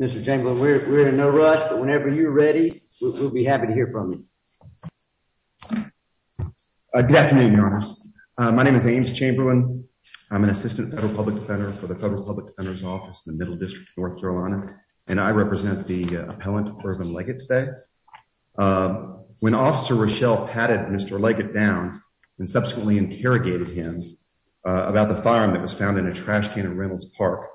Mr. Chamberlain, we're in no rush, but whenever you're ready, we'll be happy to hear from you. Good afternoon, Your Honor. My name is Ames Chamberlain. I'm an Assistant Federal Public Defender for the Federal Public Defender's Office in the Middle District of North Carolina, and I represent the appellant, Ervin Leggette, today. When Officer Rochelle patted Mr. Leggette down and subsequently interrogated him about the firearm that was found in a trash can at Reynolds Park,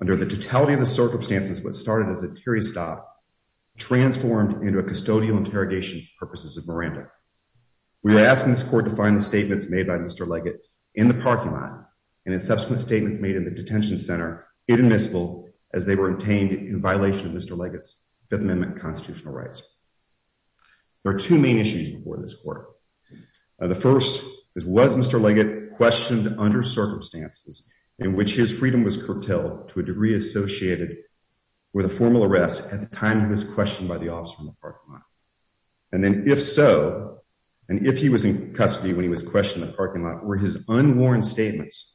under the totality of the circumstances, what started as a teary stop transformed into a custodial interrogation for purposes of Miranda. We are asking this court to find the statements made by Mr. Leggette in the parking lot and his subsequent statements made in the detention center in Missville as they were obtained in violation of Mr. Leggette's Fifth Amendment constitutional rights. There are two main issues before this court. The first is, was Mr. Leggette questioned under circumstances in which his freedom was curtailed to a degree associated with a formal arrest at the time he was questioned by the officer in the parking lot? And then, if so, and if he was in custody when he was questioned in the parking lot, were his unworn statements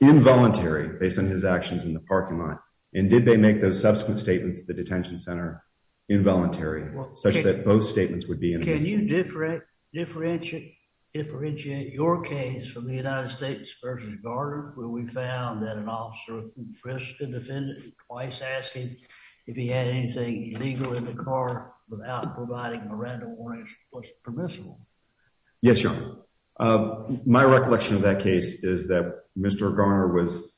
involuntary based on his actions in the parking lot, and did they make those subsequent statements at the detention center involuntary, such that both statements would be in Missville? Can you differentiate your case from the United States versus Garner, where we found that an officer who frisked a defendant and twice asked him if he had anything illegal in the car without providing a random warrant was permissible? Yes, Your Honor. My recollection of that case is that Mr. Garner was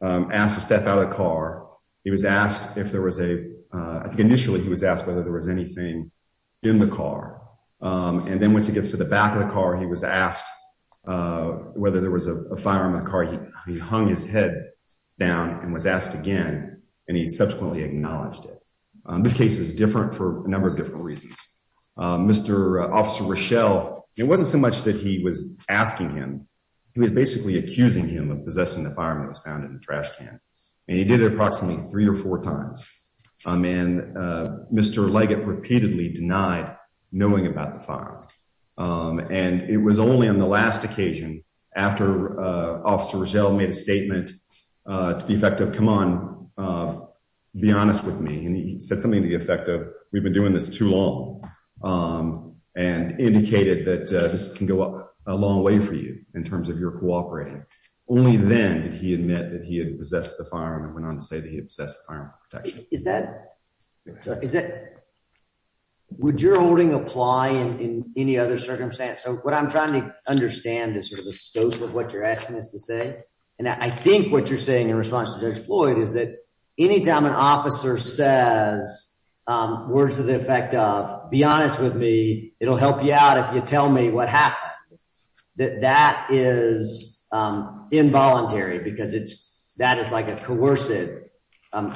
asked to step out of the car. He was asked if there was a, I think initially he was asked whether there was anything in the car. And then once he gets to the back of the car, he was asked whether there was a firearm in the car. He hung his head down and was asked again, and he subsequently acknowledged it. This case is different for a number of different reasons. Mr. Officer Rochelle, it wasn't so much that he was asking him, he was basically accusing him of possessing the firearm that was found in the trash can. And he did it approximately three or four times. And Mr. Leggett repeatedly denied knowing about the firearm. And it was only on the last occasion after Officer Rochelle made a statement to the effect of, come on, be honest with me. And he said something to the effect of, we've been doing this too long, and indicated that this can go a long way for you in terms of your cooperating. Only then did he admit that he had the firearm and went on to say that he obsessed with firearm protection. Is that, would your holding apply in any other circumstance? So what I'm trying to understand is sort of the scope of what you're asking us to say. And I think what you're saying in response to Judge Floyd is that anytime an officer says words to the effect of, be honest with me, it'll help you out if you tell me what happened, that that is involuntary because it's, that is like a coercive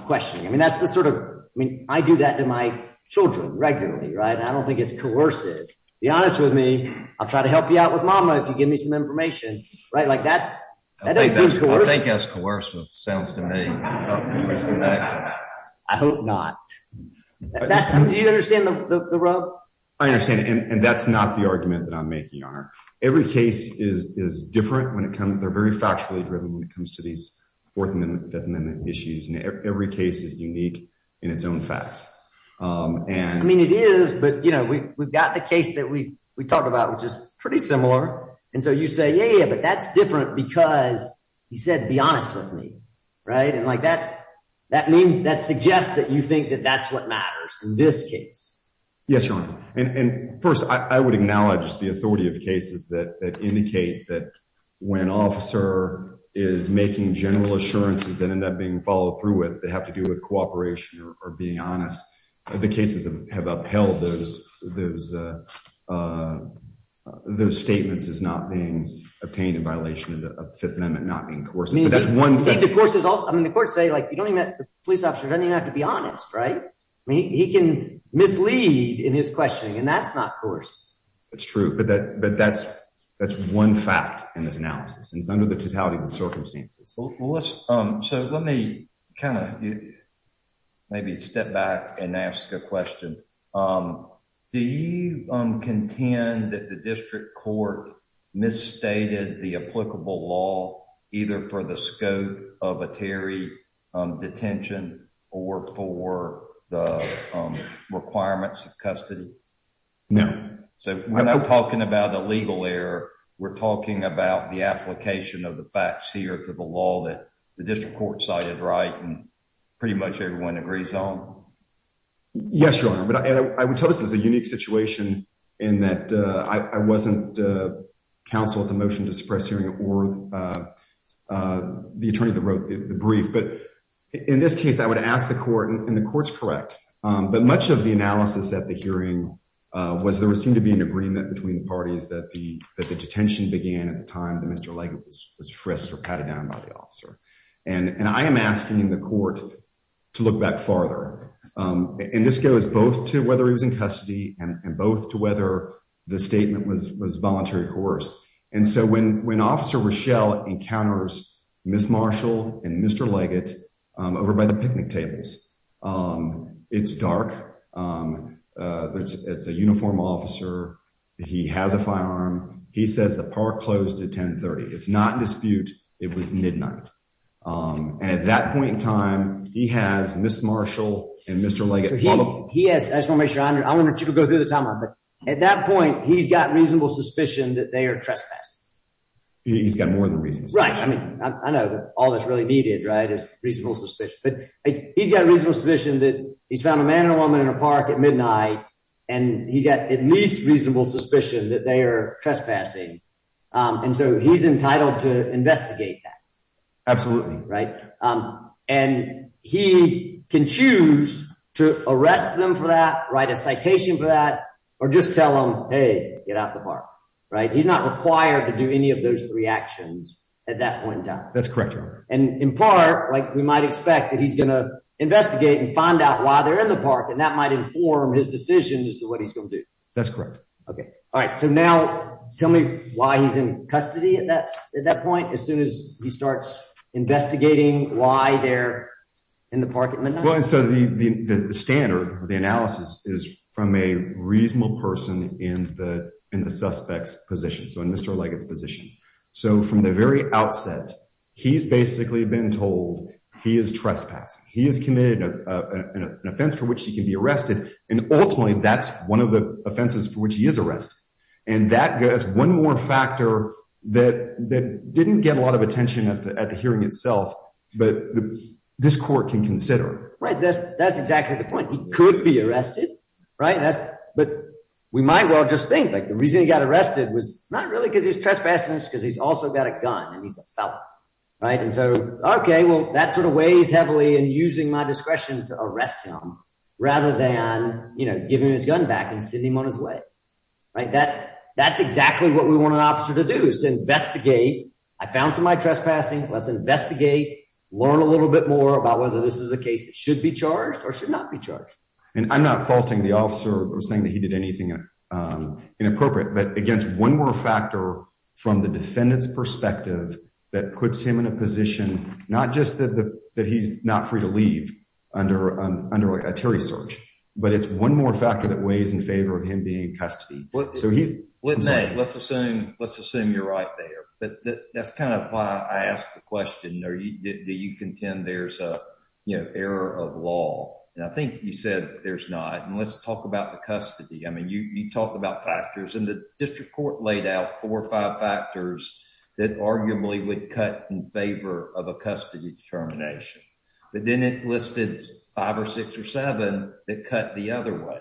questioning. I mean, that's the sort of, I mean, I do that to my children regularly, right? And I don't think it's coercive. Be honest with me. I'll try to help you out with mama if you give me some information, right? Like that's, that doesn't seem coercive. I think that's coercive, sounds to me. I hope not. That's, do you understand the rub? I understand. And that's not the argument that I'm making, Your Honor. Every case is different when it comes, they're very factually driven when it comes to these Fourth Amendment, Fifth Amendment issues. And every case is unique in its own facts. I mean, it is, but you know, we've got the case that we talked about, which is pretty similar. And so you say, yeah, but that's different because he said, be honest with me, right? And like that, that means, that suggests that you think that that's what matters in this case. Yes, Your Honor. And first, I would acknowledge the authority of cases that indicate that when an officer is making general assurances that end up being followed through with, they have to do with cooperation or being honest. The cases have upheld those statements as not being obtained in violation of the Fifth Amendment, not being coercive. I mean, the courts say, like, the police officer doesn't even have to be honest, right? I mean, he can mislead in his questioning, and that's not coercive. That's true, but that's one fact in this analysis, and it's under the totality of the circumstances. So let me kind of maybe step back and ask a question. Do you contend that the district court misstated the applicable law, either for the scope of a Terry detention or for the requirements of custody? No. So when I'm talking about a legal error, we're talking about the application of the facts here to the law that the district court cited, right? And pretty much everyone agrees on? Yes, Your Honor. But I would tell this is a unique situation in that I wasn't counsel at the motion to suppress hearing or the attorney that wrote the brief. But in this case, I would ask the court, and the court's correct, but much of the analysis at the hearing was there seemed to be an agreement between parties that the detention began at the time that Mr. Legg was frisked or patted down by the officer. And I am asking the court to look back farther. And this goes both to whether he was in custody and both to whether the statement was was voluntary course. And so when when Officer Rochelle encounters Miss Marshall and Mr. Leggett over by the picnic tables, it's dark. It's a uniform officer. He has a firearm. He says the park closed at 1030. It's not dispute. It was midnight. And at that point in time, he has Miss Marshall and Mr. Leggett. Yes, I just wanna make sure I wonder if you could go through the time. At that point, he's got reasonable suspicion that they are trespassing. He's got more than reason, right? I mean, I know all that's really needed, right? It's reasonable suspicion, but he's got a reasonable suspicion that he's found a man or woman in a park at midnight. And he's got at least reasonable suspicion that they are trespassing. And so he's entitled to investigate that. Absolutely. Right. And he can choose to arrest them for that. Write a citation for that or just tell him, hey, get out the park. Right. He's not required to do any of those three actions at that point. That's correct. And in part, like we might expect that he's going to investigate and find out why they're in the park and that might inform his decision as to what he's going to do. That's correct. Okay. All right. So now tell me why he's in custody at that at that point. As soon as he starts investigating why they're in the park. Well, so the standard or the analysis is from a reasonable person in the in the suspect's position. So in Mr. Leggett's position. So from the very outset, he's basically been told he is trespassing. He is committed an offense for which he can be arrested. And ultimately, that's one of the offenses for which he is arrested. And that is one more factor that didn't get a lot of attention at the hearing itself. But this court can consider. Right. That's exactly the point. He could be arrested. Right. And so, OK, well, that sort of weighs heavily in using my discretion to arrest him rather than, you know, giving his gun back and sending him on his way. Right. That that's exactly what we want an officer to do is to investigate. I found some my trespassing. Let's investigate. Learn a little bit more about whether this is a case that should be charged or should not be charged. And I'm not faulting the officer or saying that he did anything inappropriate, but against one more factor from the defendant's perspective that puts him in a position, not just that, that he's not free to leave under under a search. But it's one more factor that weighs in favor of him being custody. So he's with me. Let's assume let's assume you're right there. But that's kind of why I asked the question. Do you contend there's a error of law? And I think you said there's not. And let's talk about the custody. I mean, you talk about factors in the district court laid out four or five factors that arguably would cut in favor of a custody determination. But then it listed five or six or seven that cut the other way.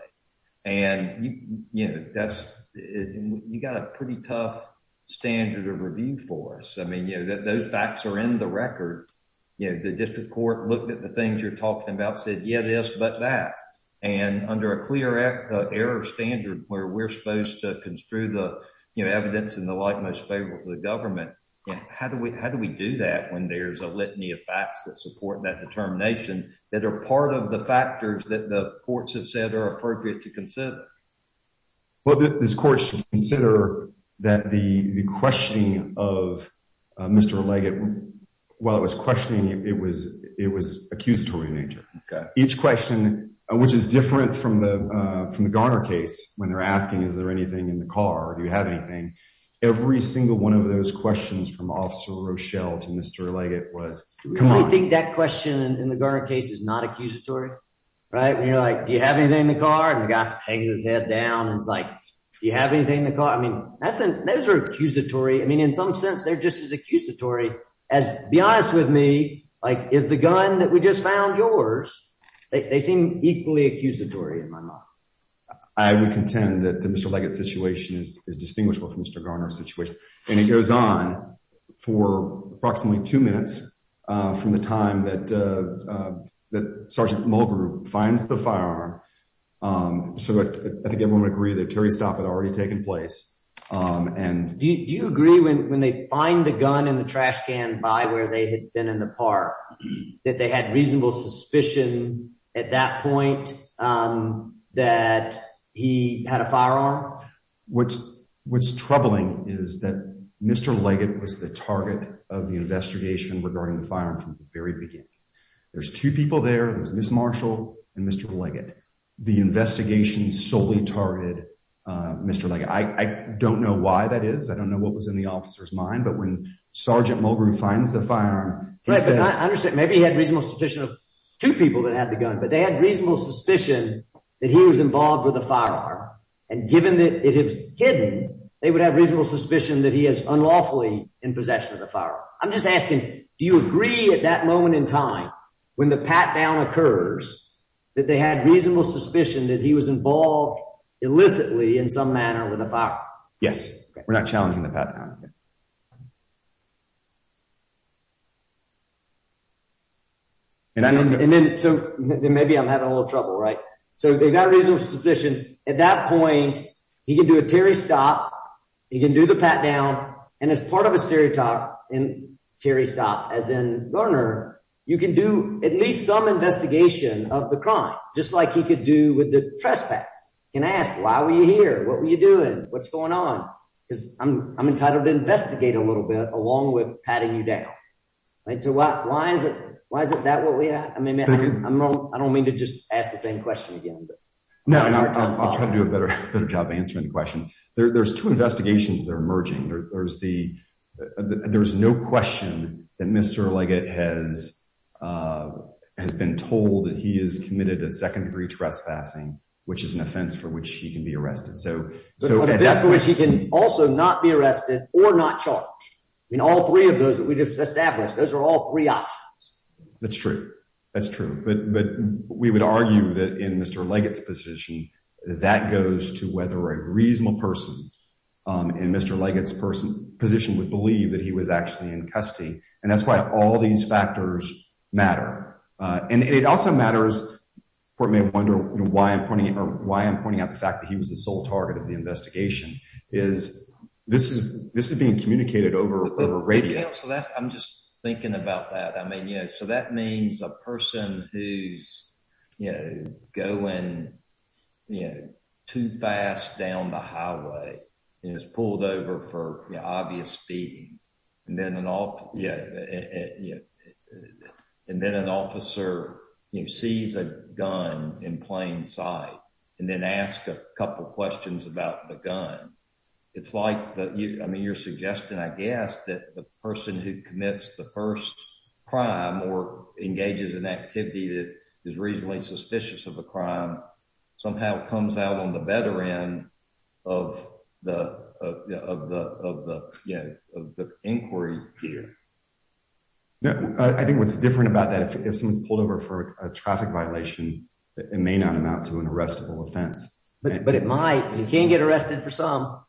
And, you know, that's you got a pretty tough standard of review for us. I mean, you know that those facts are in the record. The district court looked at the things you're talking about, said, yeah, this, but that. And under a clear error standard where we're supposed to construe the evidence in the light most favorable to the government. How do we how do we do that when there's a litany of facts that support that determination that are part of the factors that the courts have said are appropriate to consider? Well, this court should consider that the questioning of Mr. Leggett while it was questioning, it was it was accusatory in nature. Each question, which is different from the from the Garner case when they're asking, is there anything in the car? Do you have anything? Every single one of those questions from Officer Rochelle to Mr. Leggett was. I think that question in the Garner case is not accusatory. Right. And you're like, do you have anything in the car? And the guy hangs his head down and it's like, do you have anything in the car? I mean, that's an accusatory. I mean, in some sense, they're just as accusatory as be honest with me. Like, is the gun that we just found yours? They seem equally accusatory in my mind. I would contend that the Mr. Leggett situation is is distinguishable from Mr. Garner situation. And it goes on for approximately two minutes from the time that that Sergeant Mulgrew finds the firearm. So I think everyone would agree that Terry's stop had already taken place. And do you agree when they find the gun in the trash can by where they had been in the park, that they had reasonable suspicion at that point that he had a firearm? What's what's troubling is that Mr. Leggett was the target of the investigation regarding the firearm from the very beginning. There's two people there. There's Miss Marshall and Mr. Leggett. The investigation solely targeted Mr. Leggett. I don't know why that is. I don't know what was in the officer's mind. But when Sergeant Mulgrew finds the firearm. I understand. Maybe he had reasonable suspicion of two people that had the gun, but they had reasonable suspicion that he was involved with the firearm. And given that it is hidden, they would have reasonable suspicion that he is unlawfully in possession of the firearm. I'm just asking, do you agree at that moment in time when the pat down occurs that they had reasonable suspicion that he was involved illicitly in some manner with a firearm? Yes. We're not challenging the pat down. And I don't know. And then maybe I'm having a little trouble. Right. So they've got a reasonable suspicion at that point. He can do a Terry stop. He can do the pat down. And as part of a stereotype and Terry stop, as in learner, you can do at least some investigation of the crime, just like he could do with the trespass. You can ask, why were you here? What were you doing? What's going on? Because I'm entitled to investigate a little bit along with patting you down. So why is it? Why is it that way? I mean, I don't mean to just ask the same question again. No, I'll try to do a better job answering the question. There's two investigations that are emerging. There's the there's no question that Mr. Leggett has has been told that he is committed a second degree trespassing, which is an offense for which he can be arrested. So so he can also not be arrested or not charged. I mean, all three of those that we just established, those are all three options. That's true. That's true. But we would argue that in Mr. Leggett's position, that goes to whether a reasonable person in Mr. Leggett's person position would believe that he was actually in custody. And that's why all these factors matter. And it also matters. You may wonder why I'm pointing or why I'm pointing out the fact that he was the sole target of the investigation is this is this is being communicated over radio. So that's I'm just thinking about that. I mean, so that means a person who's, you know, going, you know, too fast down the highway is pulled over for obvious speeding. And then an off. Yeah. And then an officer sees a gun in plain sight and then ask a couple of questions about the gun. It's like I mean, you're suggesting, I guess, that the person who commits the first crime or engages in activity that is reasonably suspicious of a crime somehow comes out on the better end of the of the of the inquiry here. I think what's different about that, if someone's pulled over for a traffic violation, it may not amount to an arrestable offense. But it might. You can't get arrested for some.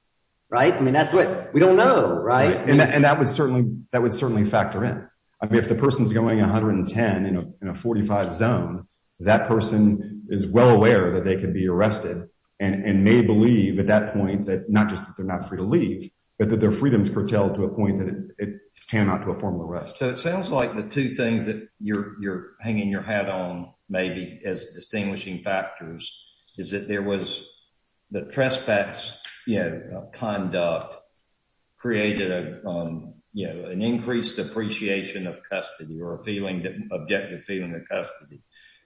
Right. I mean, that's what we don't know. Right. And that would certainly that would certainly factor in. I mean, if the person's going 110 in a 45 zone, that person is well aware that they could be arrested and may believe at that point that not just that they're not free to leave, but that their freedoms curtailed to a point that it came out to a formal arrest. So it sounds like the two things that you're you're hanging your hat on, maybe as distinguishing factors, is that there was the trespass conduct created, you know, an increased appreciation of custody or a feeling that objective feeling of custody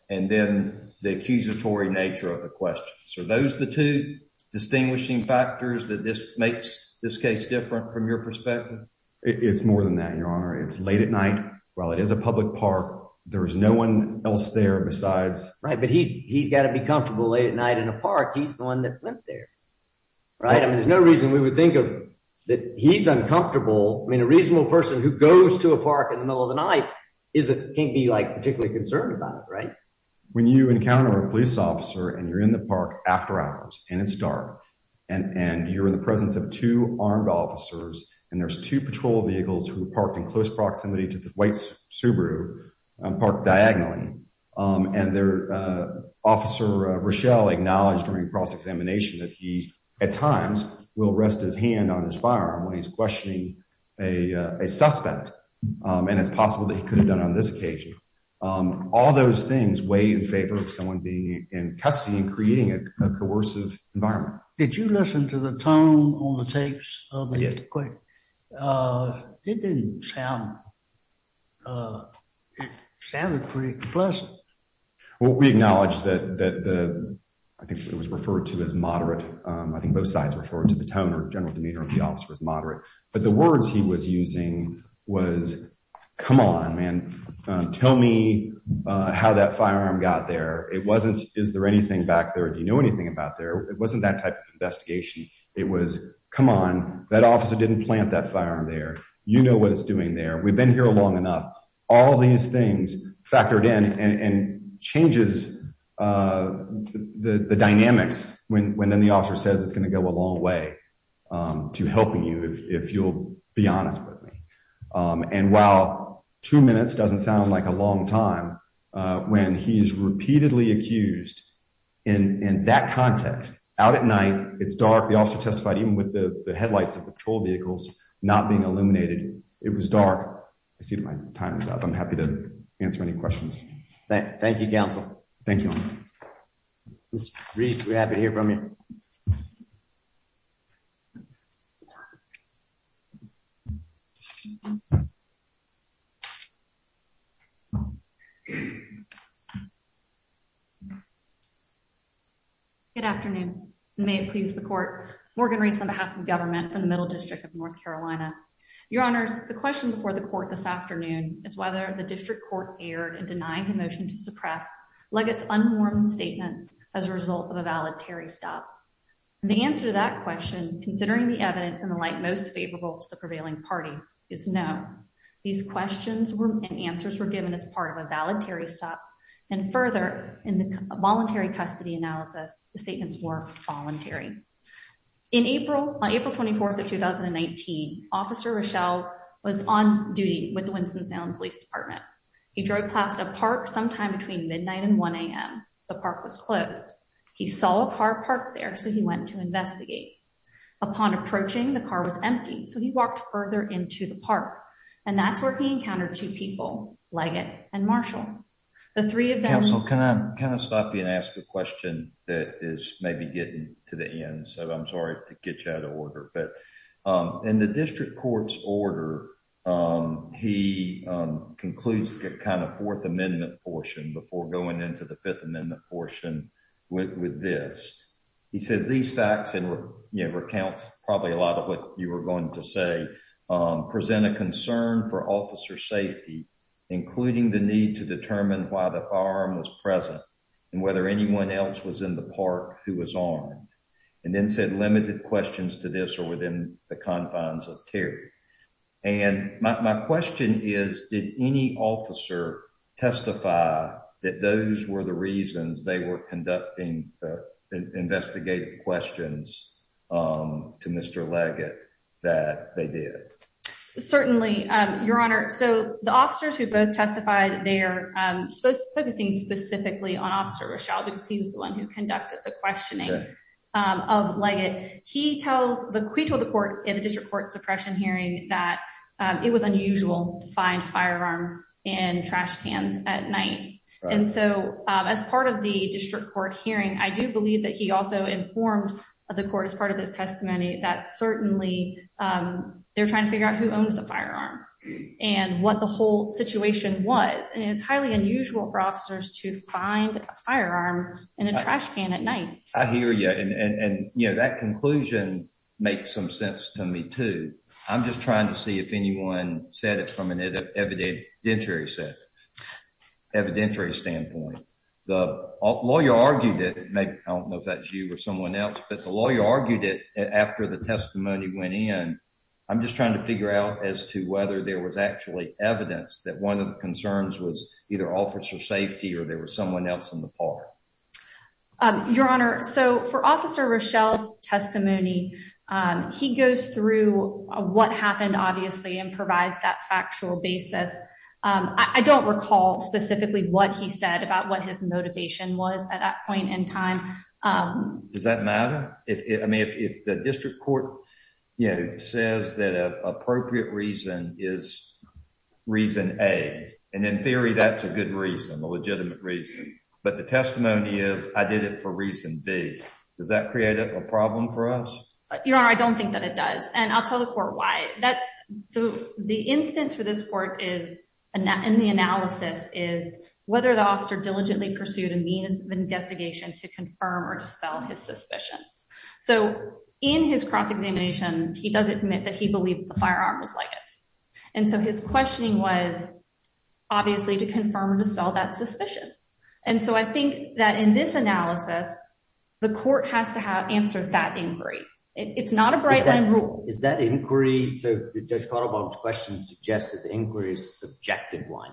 and then the accusatory nature of the question. So those the two distinguishing factors that this makes this case different from your perspective? It's more than that, your honor. It's late at night. Well, it is a public park. There's no one else there besides. Right. But he's he's got to be comfortable late at night in a park. He's the one that went there. Right. I mean, there's no reason we would think of that. He's uncomfortable. I mean, a reasonable person who goes to a park in the middle of the night is it can't be like particularly concerned about it. Right. When you encounter a police officer and you're in the park after hours and it's dark and you're in the presence of two armed officers. And there's two patrol vehicles who parked in close proximity to the white Subaru parked diagonally and their officer, Rochelle, acknowledged during cross-examination that he at times will rest his hand on his firearm when he's questioning a suspect. And it's possible that he could have done on this occasion. All those things weigh in favor of someone being in custody and creating a coercive environment. Did you listen to the tone on the tapes? It didn't sound. It sounded pretty pleasant. Well, we acknowledge that I think it was referred to as moderate. I think both sides referred to the tone or general demeanor of the office was moderate. But the words he was using was, come on, man, tell me how that firearm got there. It wasn't. Is there anything back there? Do you know anything about there? It wasn't that type of investigation. It was, come on, that officer didn't plant that firearm there. You know what it's doing there. We've been here long enough. All these things factored in and changes the dynamics when the officer says it's going to go a long way to helping you, if you'll be honest with me. And while two minutes doesn't sound like a long time, when he's repeatedly accused in that context, out at night, it's dark. The officer testified even with the headlights of patrol vehicles not being illuminated. It was dark. I see my time is up. I'm happy to answer any questions. Thank you, counsel. Thank you, Mr. Reese. We're happy to hear from you. Good afternoon. May it please the court. Morgan Reese on behalf of the government from the Middle District of North Carolina. Your honors, the question before the court this afternoon is whether the district court erred in denying the motion to suppress Leggett's unformed statements as a result of a valedictory stop. The answer to that question, considering the evidence in the light most favorable to the prevailing party is no. These questions and answers were given as part of a valedictory stop. And further, in the voluntary custody analysis, the statements were voluntary. In April, on April 24th of 2019, Officer Rochelle was on duty with the Winston-Salem Police Department. He drove past a park sometime between midnight and 1am. The park was closed. He saw a car parked there, so he went to investigate. Upon approaching, the car was empty, so he walked further into the park. And that's where he encountered two people, Leggett and Marshall. The three of them. And whether anyone else was in the park who was armed and then said limited questions to this or within the confines of Terry. And my question is, did any officer testify that those were the reasons they were conducting the investigative questions to Mr. Leggett that they did? Certainly, Your Honor. So the officers who both testified, they are focusing specifically on Officer Rochelle because he was the one who conducted the questioning of Leggett. He tells the court in the district court suppression hearing that it was unusual to find firearms in trash cans at night. And so as part of the district court hearing, I do believe that he also informed the court as part of his testimony that certainly they're trying to figure out who owns the firearm and what the whole situation was. And it's highly unusual for officers to find a firearm in a trash can at night. I hear you. And, you know, that conclusion makes some sense to me, too. I'm just trying to see if anyone said it from an evidentiary set evidentiary standpoint. The lawyer argued it. I don't know if that's you or someone else, but the lawyer argued it after the testimony went in. I'm just trying to figure out as to whether there was actually evidence that one of the concerns was either officer safety or there was someone else in the park. Your Honor. So for Officer Rochelle's testimony, he goes through what happened, obviously, and provides that factual basis. I don't recall specifically what he said about what his motivation was at that point in time. Does that matter? I mean, if the district court says that an appropriate reason is reason A, and in theory, that's a good reason, a legitimate reason. But the testimony is I did it for reason B. Does that create a problem for us? Your Honor, I don't think that it does. And I'll tell the court why. That's the instance for this court is in the analysis is whether the officer diligently pursued a means of investigation to confirm or dispel his suspicions. So in his cross-examination, he does admit that he believed the firearm was Legos. And so his questioning was obviously to confirm or dispel that suspicion. And so I think that in this analysis, the court has to have answered that inquiry. It's not a bright line rule. Is that inquiry? So Judge Kotelbaum's question suggests that the inquiry is a subjective one,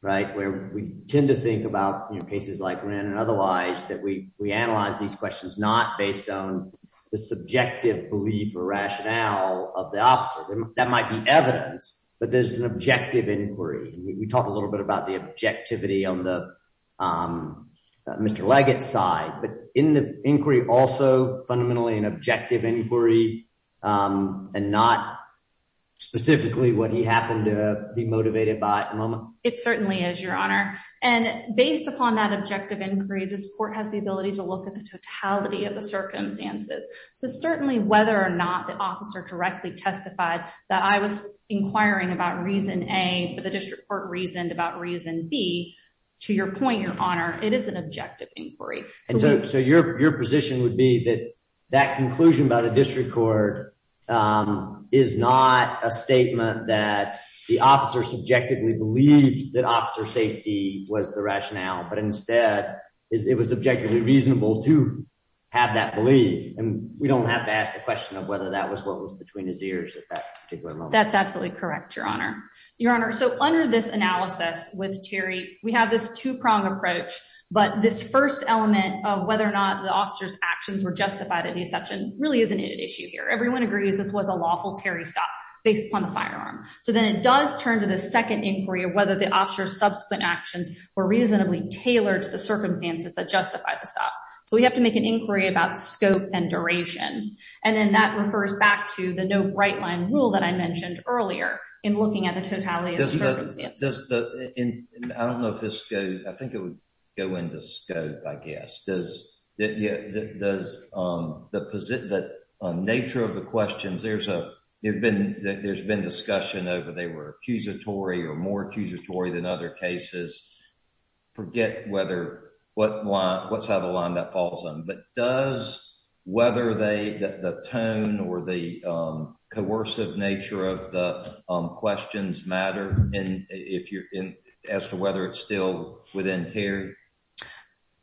right, where we tend to think about cases like Wren and otherwise, that we analyze these questions not based on the subjective belief or rationale of the officer. That might be evidence, but there's an objective inquiry. We talked a little bit about the objectivity on the Mr. Leggett side, but in the inquiry, also fundamentally an objective inquiry and not specifically what he happened to be motivated by. It certainly is, Your Honor. And based upon that objective inquiry, this court has the ability to look at the totality of the circumstances. So certainly, whether or not the officer directly testified that I was inquiring about reason A, but the district court reasoned about reason B, to your point, Your Honor, it is an objective inquiry. So your position would be that that conclusion by the district court is not a statement that the officer subjectively believed that officer safety was the rationale, but instead it was objectively reasonable to have that belief. And we don't have to ask the question of whether that was what was between his ears at that particular moment. That's absolutely correct, Your Honor. Your Honor, so under this analysis with Terry, we have this two-pronged approach, but this first element of whether or not the officer's actions were justified at the exception really isn't an issue here. Everyone agrees this was a lawful Terry stop based upon the firearm. So then it does turn to the second inquiry of whether the officer's subsequent actions were reasonably tailored to the circumstances that justify the stop. So we have to make an inquiry about scope and duration. And then that refers back to the no-bright-line rule that I mentioned earlier in looking at the totality of the circumstances. I don't know if this goes, I think it would go into scope, I guess. Does the nature of the questions, there's been discussion over they were accusatory or more accusatory than other cases. Forget what side of the line that falls on. But does whether the tone or the coercive nature of the questions matter as to whether it's still within Terry?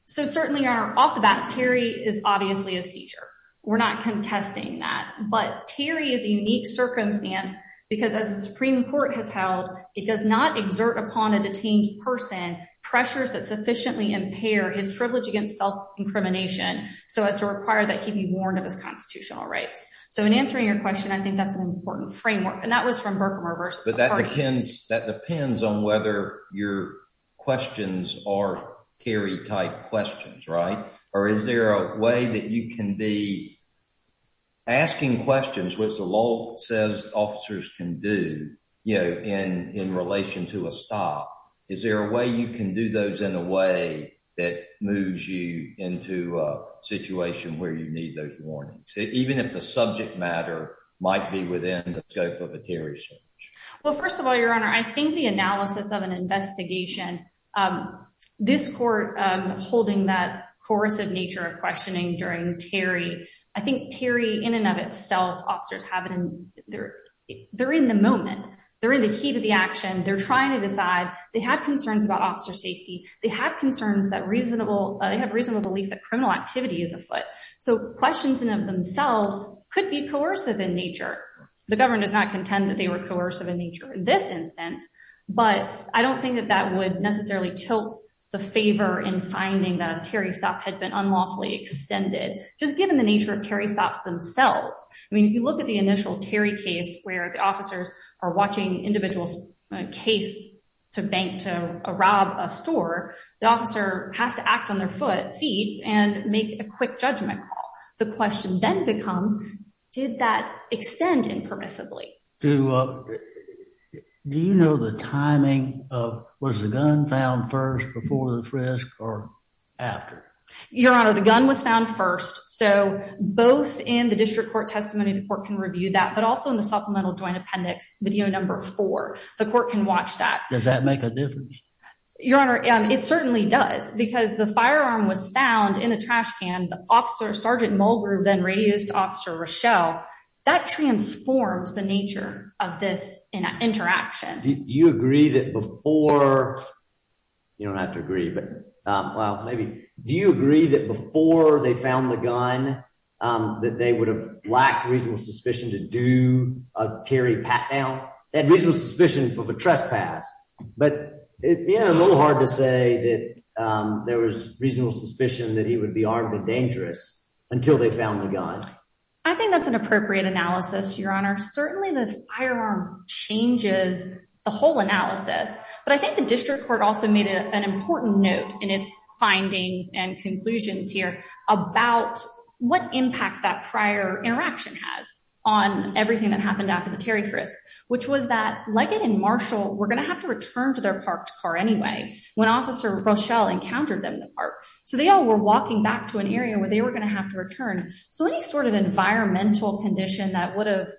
So certainly, Your Honor, off the bat, Terry is obviously a seizure. We're not contesting that. But Terry is a unique circumstance because as the Supreme Court has held, it does not exert upon a detained person pressures that sufficiently impair his privilege against self-incrimination so as to require that he be warned of his constitutional rights. So in answering your question, I think that's an important framework. And that was from Berkmer versus McCarty. That depends on whether your questions are Terry-type questions, right? Or is there a way that you can be asking questions, which the law says officers can do, in relation to a stop. Is there a way you can do those in a way that moves you into a situation where you need those warnings, even if the subject matter might be within the scope of a Terry search? Well, Your Honor, I think the analysis of an investigation, this court holding that coercive nature of questioning during Terry, I think Terry, in and of itself, officers, they're in the moment. They're in the heat of the action. They're trying to decide. They have concerns about officer safety. They have concerns that reasonable, they have reasonable belief that criminal activity is afoot. So questions in and of themselves could be coercive in nature. The government does not contend that they were coercive in nature in this instance, but I don't think that that would necessarily tilt the favor in finding that a Terry stop had been unlawfully extended, just given the nature of Terry stops themselves. I mean, if you look at the initial Terry case where the officers are watching individuals case to bank to rob a store, the officer has to act on their feet and make a quick judgment call. The question then becomes, did that extend impermissibly? Do you know the timing of, was the gun found first before the frisk or after? Your Honor, the gun was found first. So both in the district court testimony, the court can review that, but also in the supplemental joint appendix, video number four, the court can watch that. Does that make a difference? Your Honor, it certainly does because the firearm was found in the trash can. The officer, Sergeant Mulgrew, then radius officer Rochelle, that transformed the nature of this interaction. Do you agree that before, you don't have to agree, but well, maybe. Do you agree that before they found the gun, that they would have lacked reasonable suspicion to do a Terry pat down? They had reasonable suspicion of a trespass, but it being a little hard to say that there was reasonable suspicion that he would be armed and dangerous until they found the gun. I think that's an appropriate analysis, Your Honor. Certainly the firearm changes the whole analysis, but I think the district court also made an important note in its findings and conclusions here about what impact that prior interaction has on everything that happened after the Terry frisk, which was that Leggett and Marshall were going to have to return to their parked car anyway, when officer Rochelle encountered them in the park. So they all were walking back to an area where they were going to have to return. So any sort of environmental condition that would have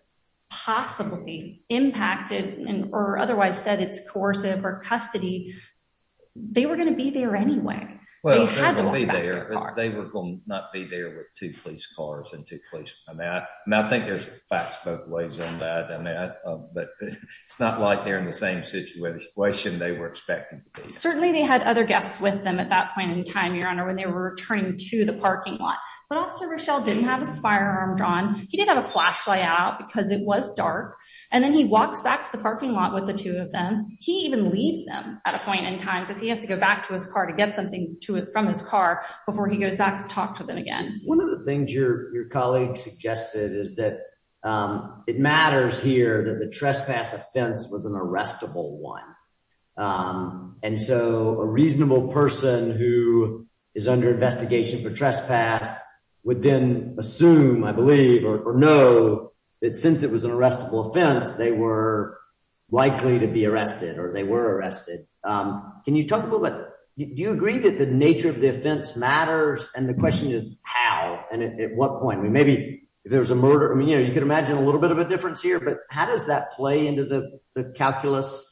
possibly impacted or otherwise said it's coercive or custody, they were going to be there anyway. Well, they will not be there with two police cars and two police. I think there's facts both ways on that, but it's not like they're in the same situation they were expecting. Certainly they had other guests with them at that point in time, Your Honor, when they were returning to the parking lot, but officer Rochelle didn't have his firearm drawn. He didn't have a flashlight out because it was dark. And then he walks back to the parking lot with the two of them. He even leaves them at a point in time because he has to go back to his car to get something to it from his car before he goes back and talk to them again. One of the things your colleague suggested is that it matters here that the trespass offense was an arrestable one. And so a reasonable person who is under investigation for trespass would then assume, I believe, or know that since it was an arrestable offense, they were likely to be arrested or they were arrested. Can you talk about that? Do you agree that the nature of the offense matters? And the question is how and at what point? Maybe there's a murder. I mean, you could imagine a little bit of a difference here, but how does that play into the calculus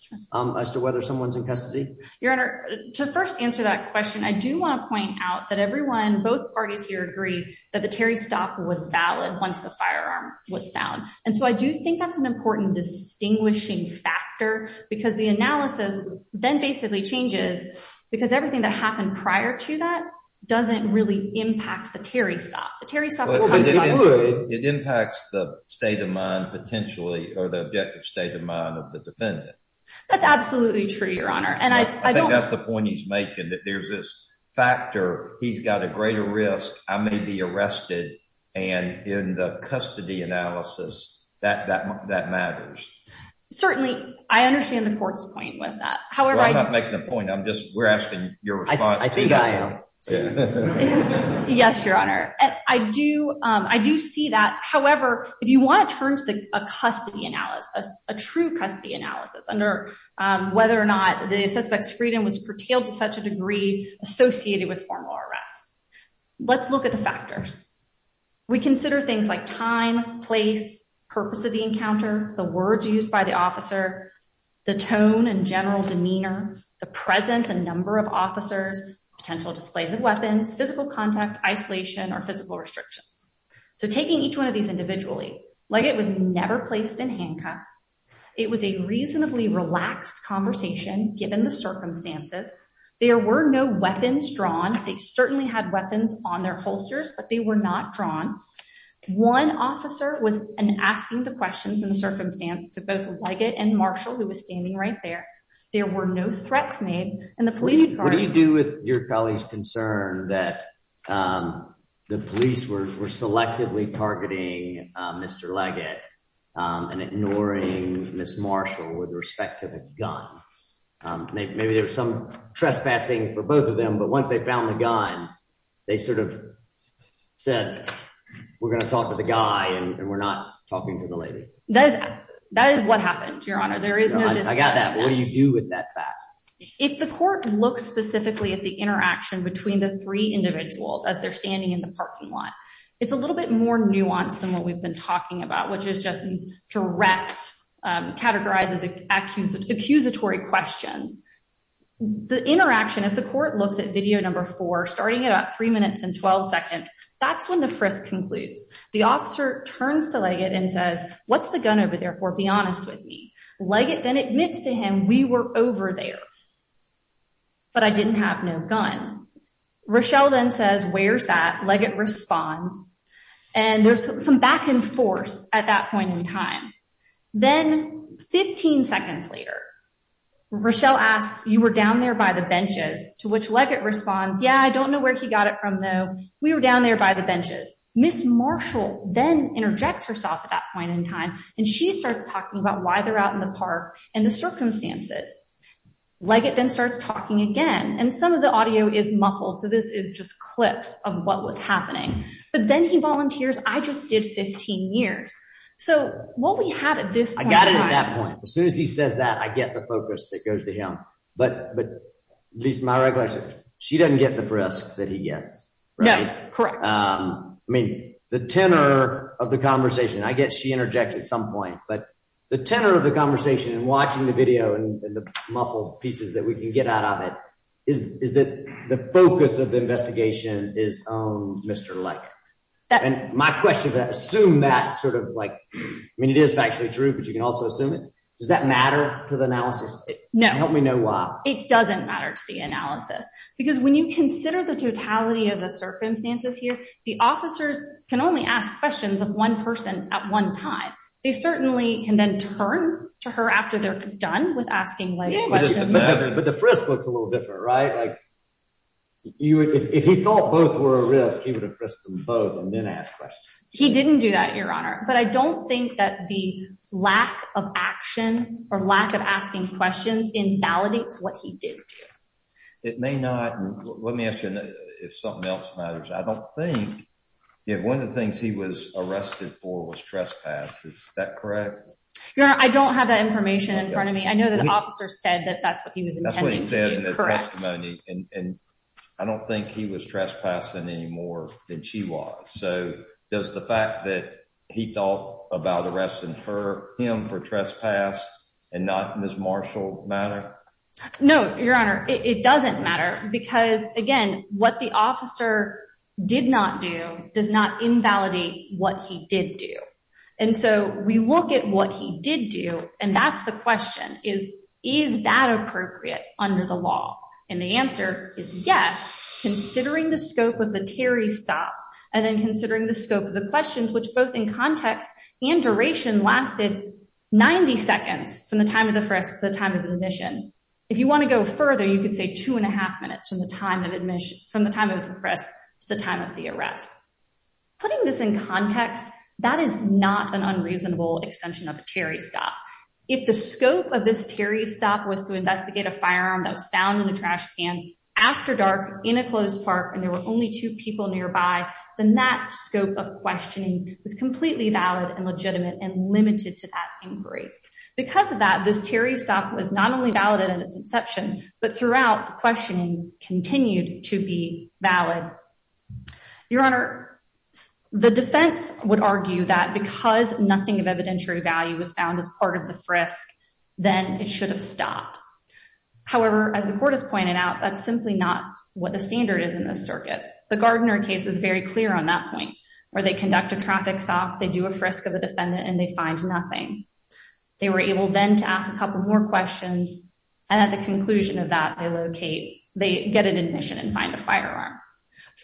as to whether someone's in custody? Your Honor, to first answer that question, I do want to point out that everyone, both parties here agree that the Terry stop was valid once the firearm was found. And so I do think that's an important distinguishing factor because the analysis then basically changes because everything that happened prior to that doesn't really impact the Terry stop. It impacts the state of mind potentially or the objective state of mind of the defendant. That's absolutely true, Your Honor. And I think that's the point he's making, that there's this factor. He's got a greater risk. I may be arrested. And in the custody analysis, that matters. Certainly, I understand the court's point with that. However, I'm not making a point. I'm just we're asking your response. Yes, Your Honor. I do. I do see that. However, if you want to turn to a custody analysis, a true custody analysis under whether or not the suspect's freedom was curtailed to such a degree associated with formal arrest. Let's look at the factors. We consider things like time, place, purpose of the encounter, the words used by the officer, the tone and general demeanor, the presence and number of officers, potential displays of weapons, physical contact, isolation or physical restrictions. So taking each one of these individually, Leggett was never placed in handcuffs. It was a reasonably relaxed conversation. Given the circumstances, there were no weapons drawn. They certainly had weapons on their holsters, but they were not drawn. One officer was asking the questions in the circumstance to both Leggett and Marshall, who was standing right there. There were no threats made in the police department. What do you do with your colleague's concern that the police were selectively targeting Mr. Leggett and ignoring Ms. Marshall with respect to the gun? Maybe there was some trespassing for both of them, but once they found the gun, they sort of said, we're going to talk to the guy and we're not talking to the lady. That is what happened, Your Honor. There is no discussion. I got that. What do you do with that fact? If the court looks specifically at the interaction between the three individuals as they're standing in the parking lot, it's a little bit more nuanced than what we've been talking about, which is just direct, categorizes accusatory questions. The interaction, if the court looks at video number four, starting at about three minutes and 12 seconds, that's when the frisk concludes. The officer turns to Leggett and says, what's the gun over there for? Be honest with me. Leggett then admits to him, we were over there, but I didn't have no gun. Rochelle then says, where's that? Leggett responds. And there's some back and forth at that point in time. Then 15 seconds later, Rochelle asks, you were down there by the benches to which Leggett responds. Yeah, I don't know where he got it from, though. We were down there by the benches. Miss Marshall then interjects herself at that point in time, and she starts talking about why they're out in the park and the circumstances. Leggett then starts talking again, and some of the audio is muffled. So this is just clips of what was happening. But then he volunteers. I just did 15 years. So what we have at this point in time... I got it at that point. As soon as he says that, I get the focus that goes to him. But at least my regulation, she doesn't get the frisk that he gets. Yeah, correct. I mean, the tenor of the conversation, I guess she interjects at some point. But the tenor of the conversation and watching the video and the muffled pieces that we can get out of it is that the focus of the investigation is on Mr. Leggett. And my question is, assume that sort of like... I mean, it is factually true, but you can also assume it. Does that matter to the analysis? No. Help me know why. It doesn't matter to the analysis, because when you consider the totality of the circumstances here, the officers can only ask questions of one person at one time. They certainly can then turn to her after they're done with asking questions. But the frisk looks a little different, right? If he thought both were a risk, he would have frisked them both and then asked questions. He didn't do that, Your Honor. But I don't think that the lack of action or lack of asking questions invalidates what he did. It may not. Let me ask you if something else matters. I don't think if one of the things he was arrested for was trespass. Is that correct? Your Honor, I don't have that information in front of me. I know that the officer said that that's what he was intending to do. Correct. And I don't think he was trespassing any more than she was. So does the fact that he thought about arresting him for trespass and not Ms. Marshall matter? No, Your Honor. It doesn't matter because, again, what the officer did not do does not invalidate what he did do. And so we look at what he did do, and that's the question is, is that appropriate under the law? And the answer is yes, considering the scope of the Terry stop and then considering the scope of the questions, which both in context and duration lasted 90 seconds from the time of the first, the time of the admission. If you want to go further, you could say two and a half minutes from the time of admissions, from the time of the first to the time of the arrest. Putting this in context, that is not an unreasonable extension of a Terry stop. If the scope of this Terry stop was to investigate a firearm that was found in a trash can after dark in a closed park and there were only two people nearby, then that scope of questioning was completely valid and legitimate and limited to that inquiry. Because of that, this Terry stop was not only valid at its inception, but throughout questioning continued to be valid. Your Honor, the defense would argue that because nothing of evidentiary value was found as part of the frisk, then it should have stopped. However, as the court has pointed out, that's simply not what the standard is in this circuit. The Gardner case is very clear on that point where they conduct a traffic stop. They do a frisk of the defendant and they find nothing. They were able then to ask a couple more questions. And at the conclusion of that, they locate, they get an admission and find a firearm.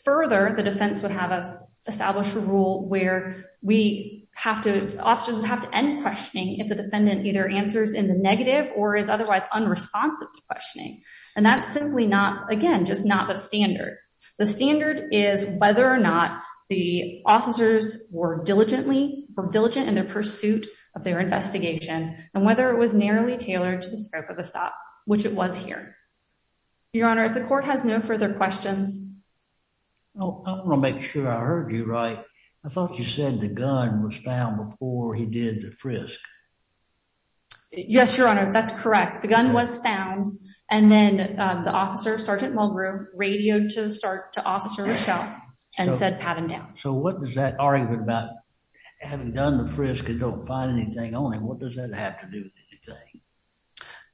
Further, the defense would have us establish a rule where we have to, officers would have to end questioning if the defendant either answers in the negative or is otherwise unresponsive to questioning. And that's simply not, again, just not the standard. The standard is whether or not the officers were diligently or diligent in their pursuit of their investigation, and whether it was narrowly tailored to the scope of the stop, which it was here. Your Honor, if the court has no further questions. I want to make sure I heard you right. I thought you said the gun was found before he did the frisk. Yes, Your Honor. That's correct. The gun was found. And then the officer, Sergeant Mulgrew, radioed to start to Officer Rochelle and said pat him down. So what does that argument about having done the frisk and don't find anything on him, what does that have to do with anything?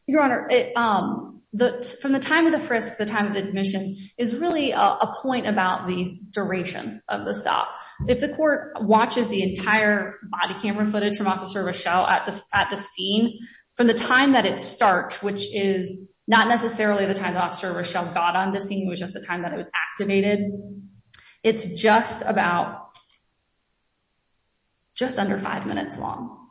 Your Honor, from the time of the frisk to the time of the admission is really a point about the duration of the stop. If the court watches the entire body camera footage from Officer Rochelle at the scene, from the time that it starts, which is not necessarily the time that Officer Rochelle got on the scene, it was just the time that it was activated, it's just about just under five minutes long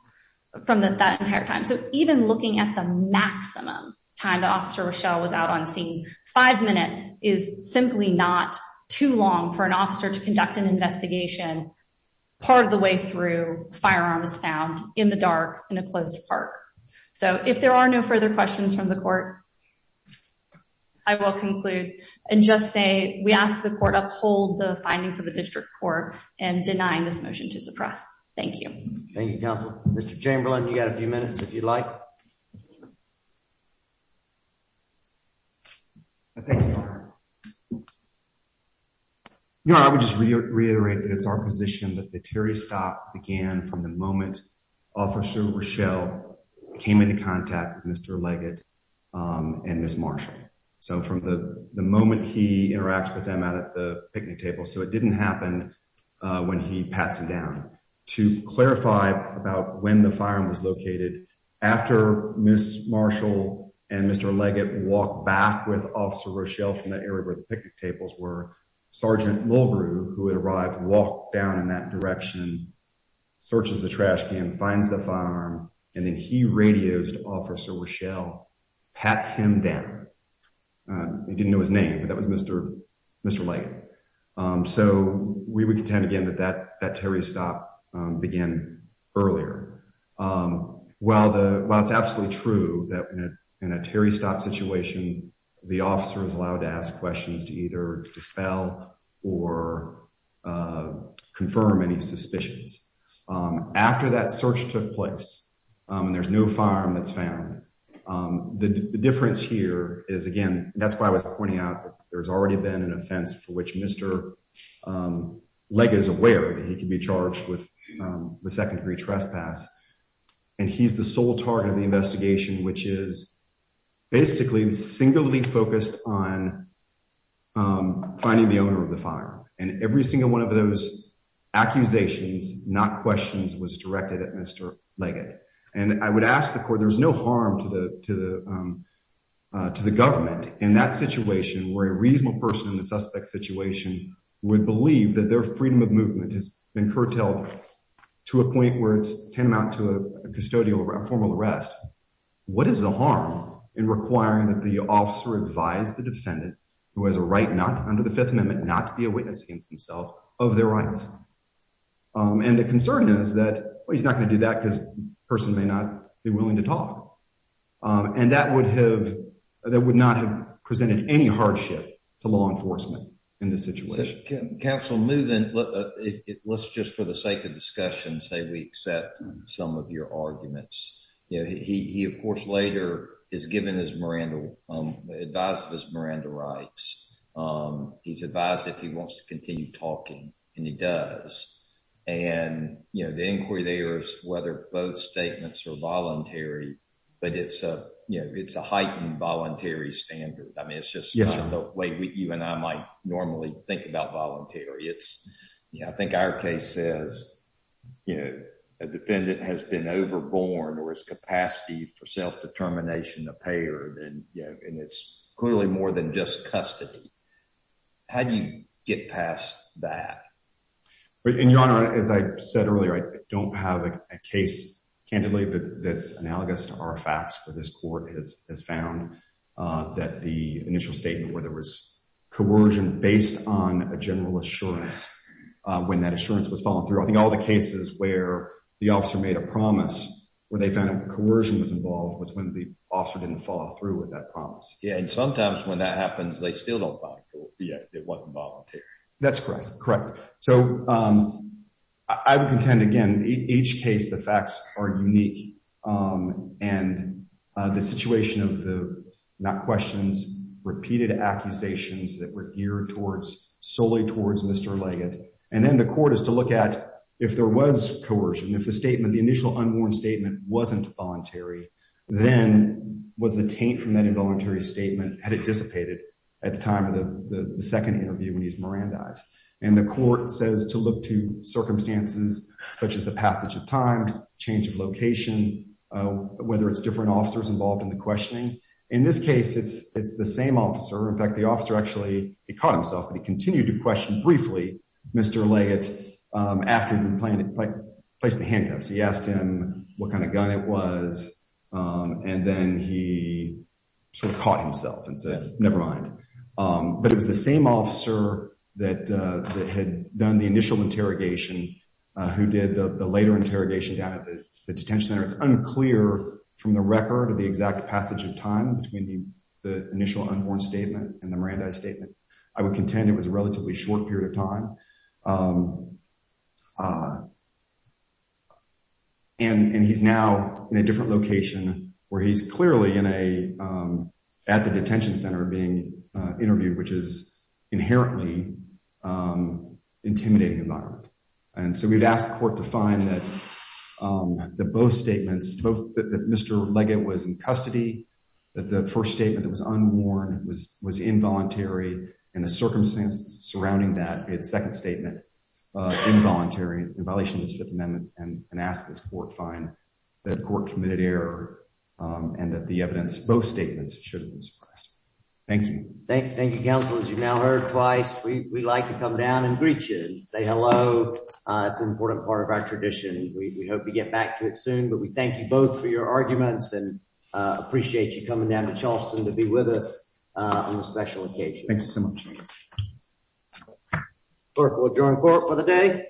from that entire time. So even looking at the maximum time that Officer Rochelle was out on scene, five minutes is simply not too long for an officer to conduct an investigation part of the way through firearms found in the dark in a closed park. So if there are no further questions from the court, I will conclude and just say we ask the court uphold the findings of the district court and denying this motion to suppress. Thank you. Thank you, Counselor. Mr. Chamberlain, you got a few minutes if you'd like. Thank you, Your Honor. Your Honor, I would just reiterate that it's our position that the Terry stop began from the moment Officer Rochelle came into contact with Mr. Leggett and Ms. Marshall. So from the moment he interacts with them out at the picnic table, so it didn't happen when he pats him down. To clarify about when the firearm was located, after Ms. Marshall and Mr. Leggett walked back with Officer Rochelle from that area where the picnic tables were, Sergeant Mulgrew, who had arrived, walked down in that direction, searches the trash can, finds the firearm, and then he radiosed Officer Rochelle, pat him down. He didn't know his name, but that was Mr. Mr. Leggett. So we would contend again that that Terry stop began earlier. While it's absolutely true that in a Terry stop situation, the officer is allowed to ask questions to either dispel or confirm any suspicions. After that search took place, and there's no firearm that's found, the difference here is, again, that's why I was pointing out that there's already been an offense for which Mr. Leggett is aware that he could be charged with the second degree trespass. And he's the sole target of the investigation, which is basically singly focused on finding the owner of the firearm. And every single one of those accusations, not questions, was directed at Mr. Leggett. And I would ask the court, there's no harm to the government in that situation where a reasonable person in the suspect situation would believe that their freedom of movement has been curtailed to a point where it's tantamount to a custodial formal arrest. What is the harm in requiring that the officer advise the defendant, who has a right not under the Fifth Amendment, not to be a witness against himself of their rights? And the concern is that he's not going to do that because the person may not be willing to talk. And that would have, that would not have presented any hardship to law enforcement in this situation. Counsel, moving, let's just for the sake of discussion, say we accept some of your arguments. He, of course, later is given his Miranda, advised of his Miranda rights. He's advised if he wants to continue talking, and he does. And, you know, the inquiry there is whether both statements are voluntary, but it's a, you know, it's a heightened voluntary standard. I mean, it's just the way you and I might normally think about voluntary. It's, you know, I think our case says, you know, a defendant has been overboard or his capacity for self-determination of payer. And, you know, and it's clearly more than just custody. How do you get past that? In your honor, as I said earlier, I don't have a case. Candidly, that's analogous to our facts for this court has found that the initial statement where there was coercion based on a general assurance. When that assurance was following through, I think all the cases where the officer made a promise where they found a coercion was involved was when the officer didn't follow through with that promise. Yeah. And sometimes when that happens, they still don't. Yeah, it wasn't voluntary. That's correct. Correct. So I would contend, again, each case, the facts are unique. And the situation of the not questions, repeated accusations that were geared towards solely towards Mr. Leggett. And then the court is to look at if there was coercion, if the statement, the initial unworn statement wasn't voluntary, then was the taint from that involuntary statement. Had it dissipated at the time of the second interview when he's Miranda's and the court says to look to circumstances such as the passage of time, change of location, whether it's different officers involved in the questioning. In this case, it's it's the same officer. In fact, the officer actually caught himself and he continued to question briefly. Mr. Leggett, after he placed the handcuffs, he asked him what kind of gun it was. And then he sort of caught himself and said, never mind. But it was the same officer that had done the initial interrogation who did the later interrogation down at the detention center. It's unclear from the record of the exact passage of time between the initial unborn statement and the Miranda statement. I would contend it was a relatively short period of time. And he's now in a different location where he's clearly in a at the detention center being interviewed, which is inherently intimidating environment. And so we've asked the court to find that the both statements, both that Mr. Leggett was in custody, that the first statement that was unworn was was involuntary. And the circumstances surrounding that second statement involuntary in violation of the Fifth Amendment. And ask this court find that court committed error and that the evidence, both statements should be expressed. Thank you. Thank you, counsel. As you now heard twice, we like to come down and greet you and say hello. It's an important part of our tradition. We hope to get back to it soon. But we thank you both for your arguments and appreciate you coming down to Charleston to be with us on this special occasion. Thank you so much. Clerk will adjourn court for the day. This course is adjourned.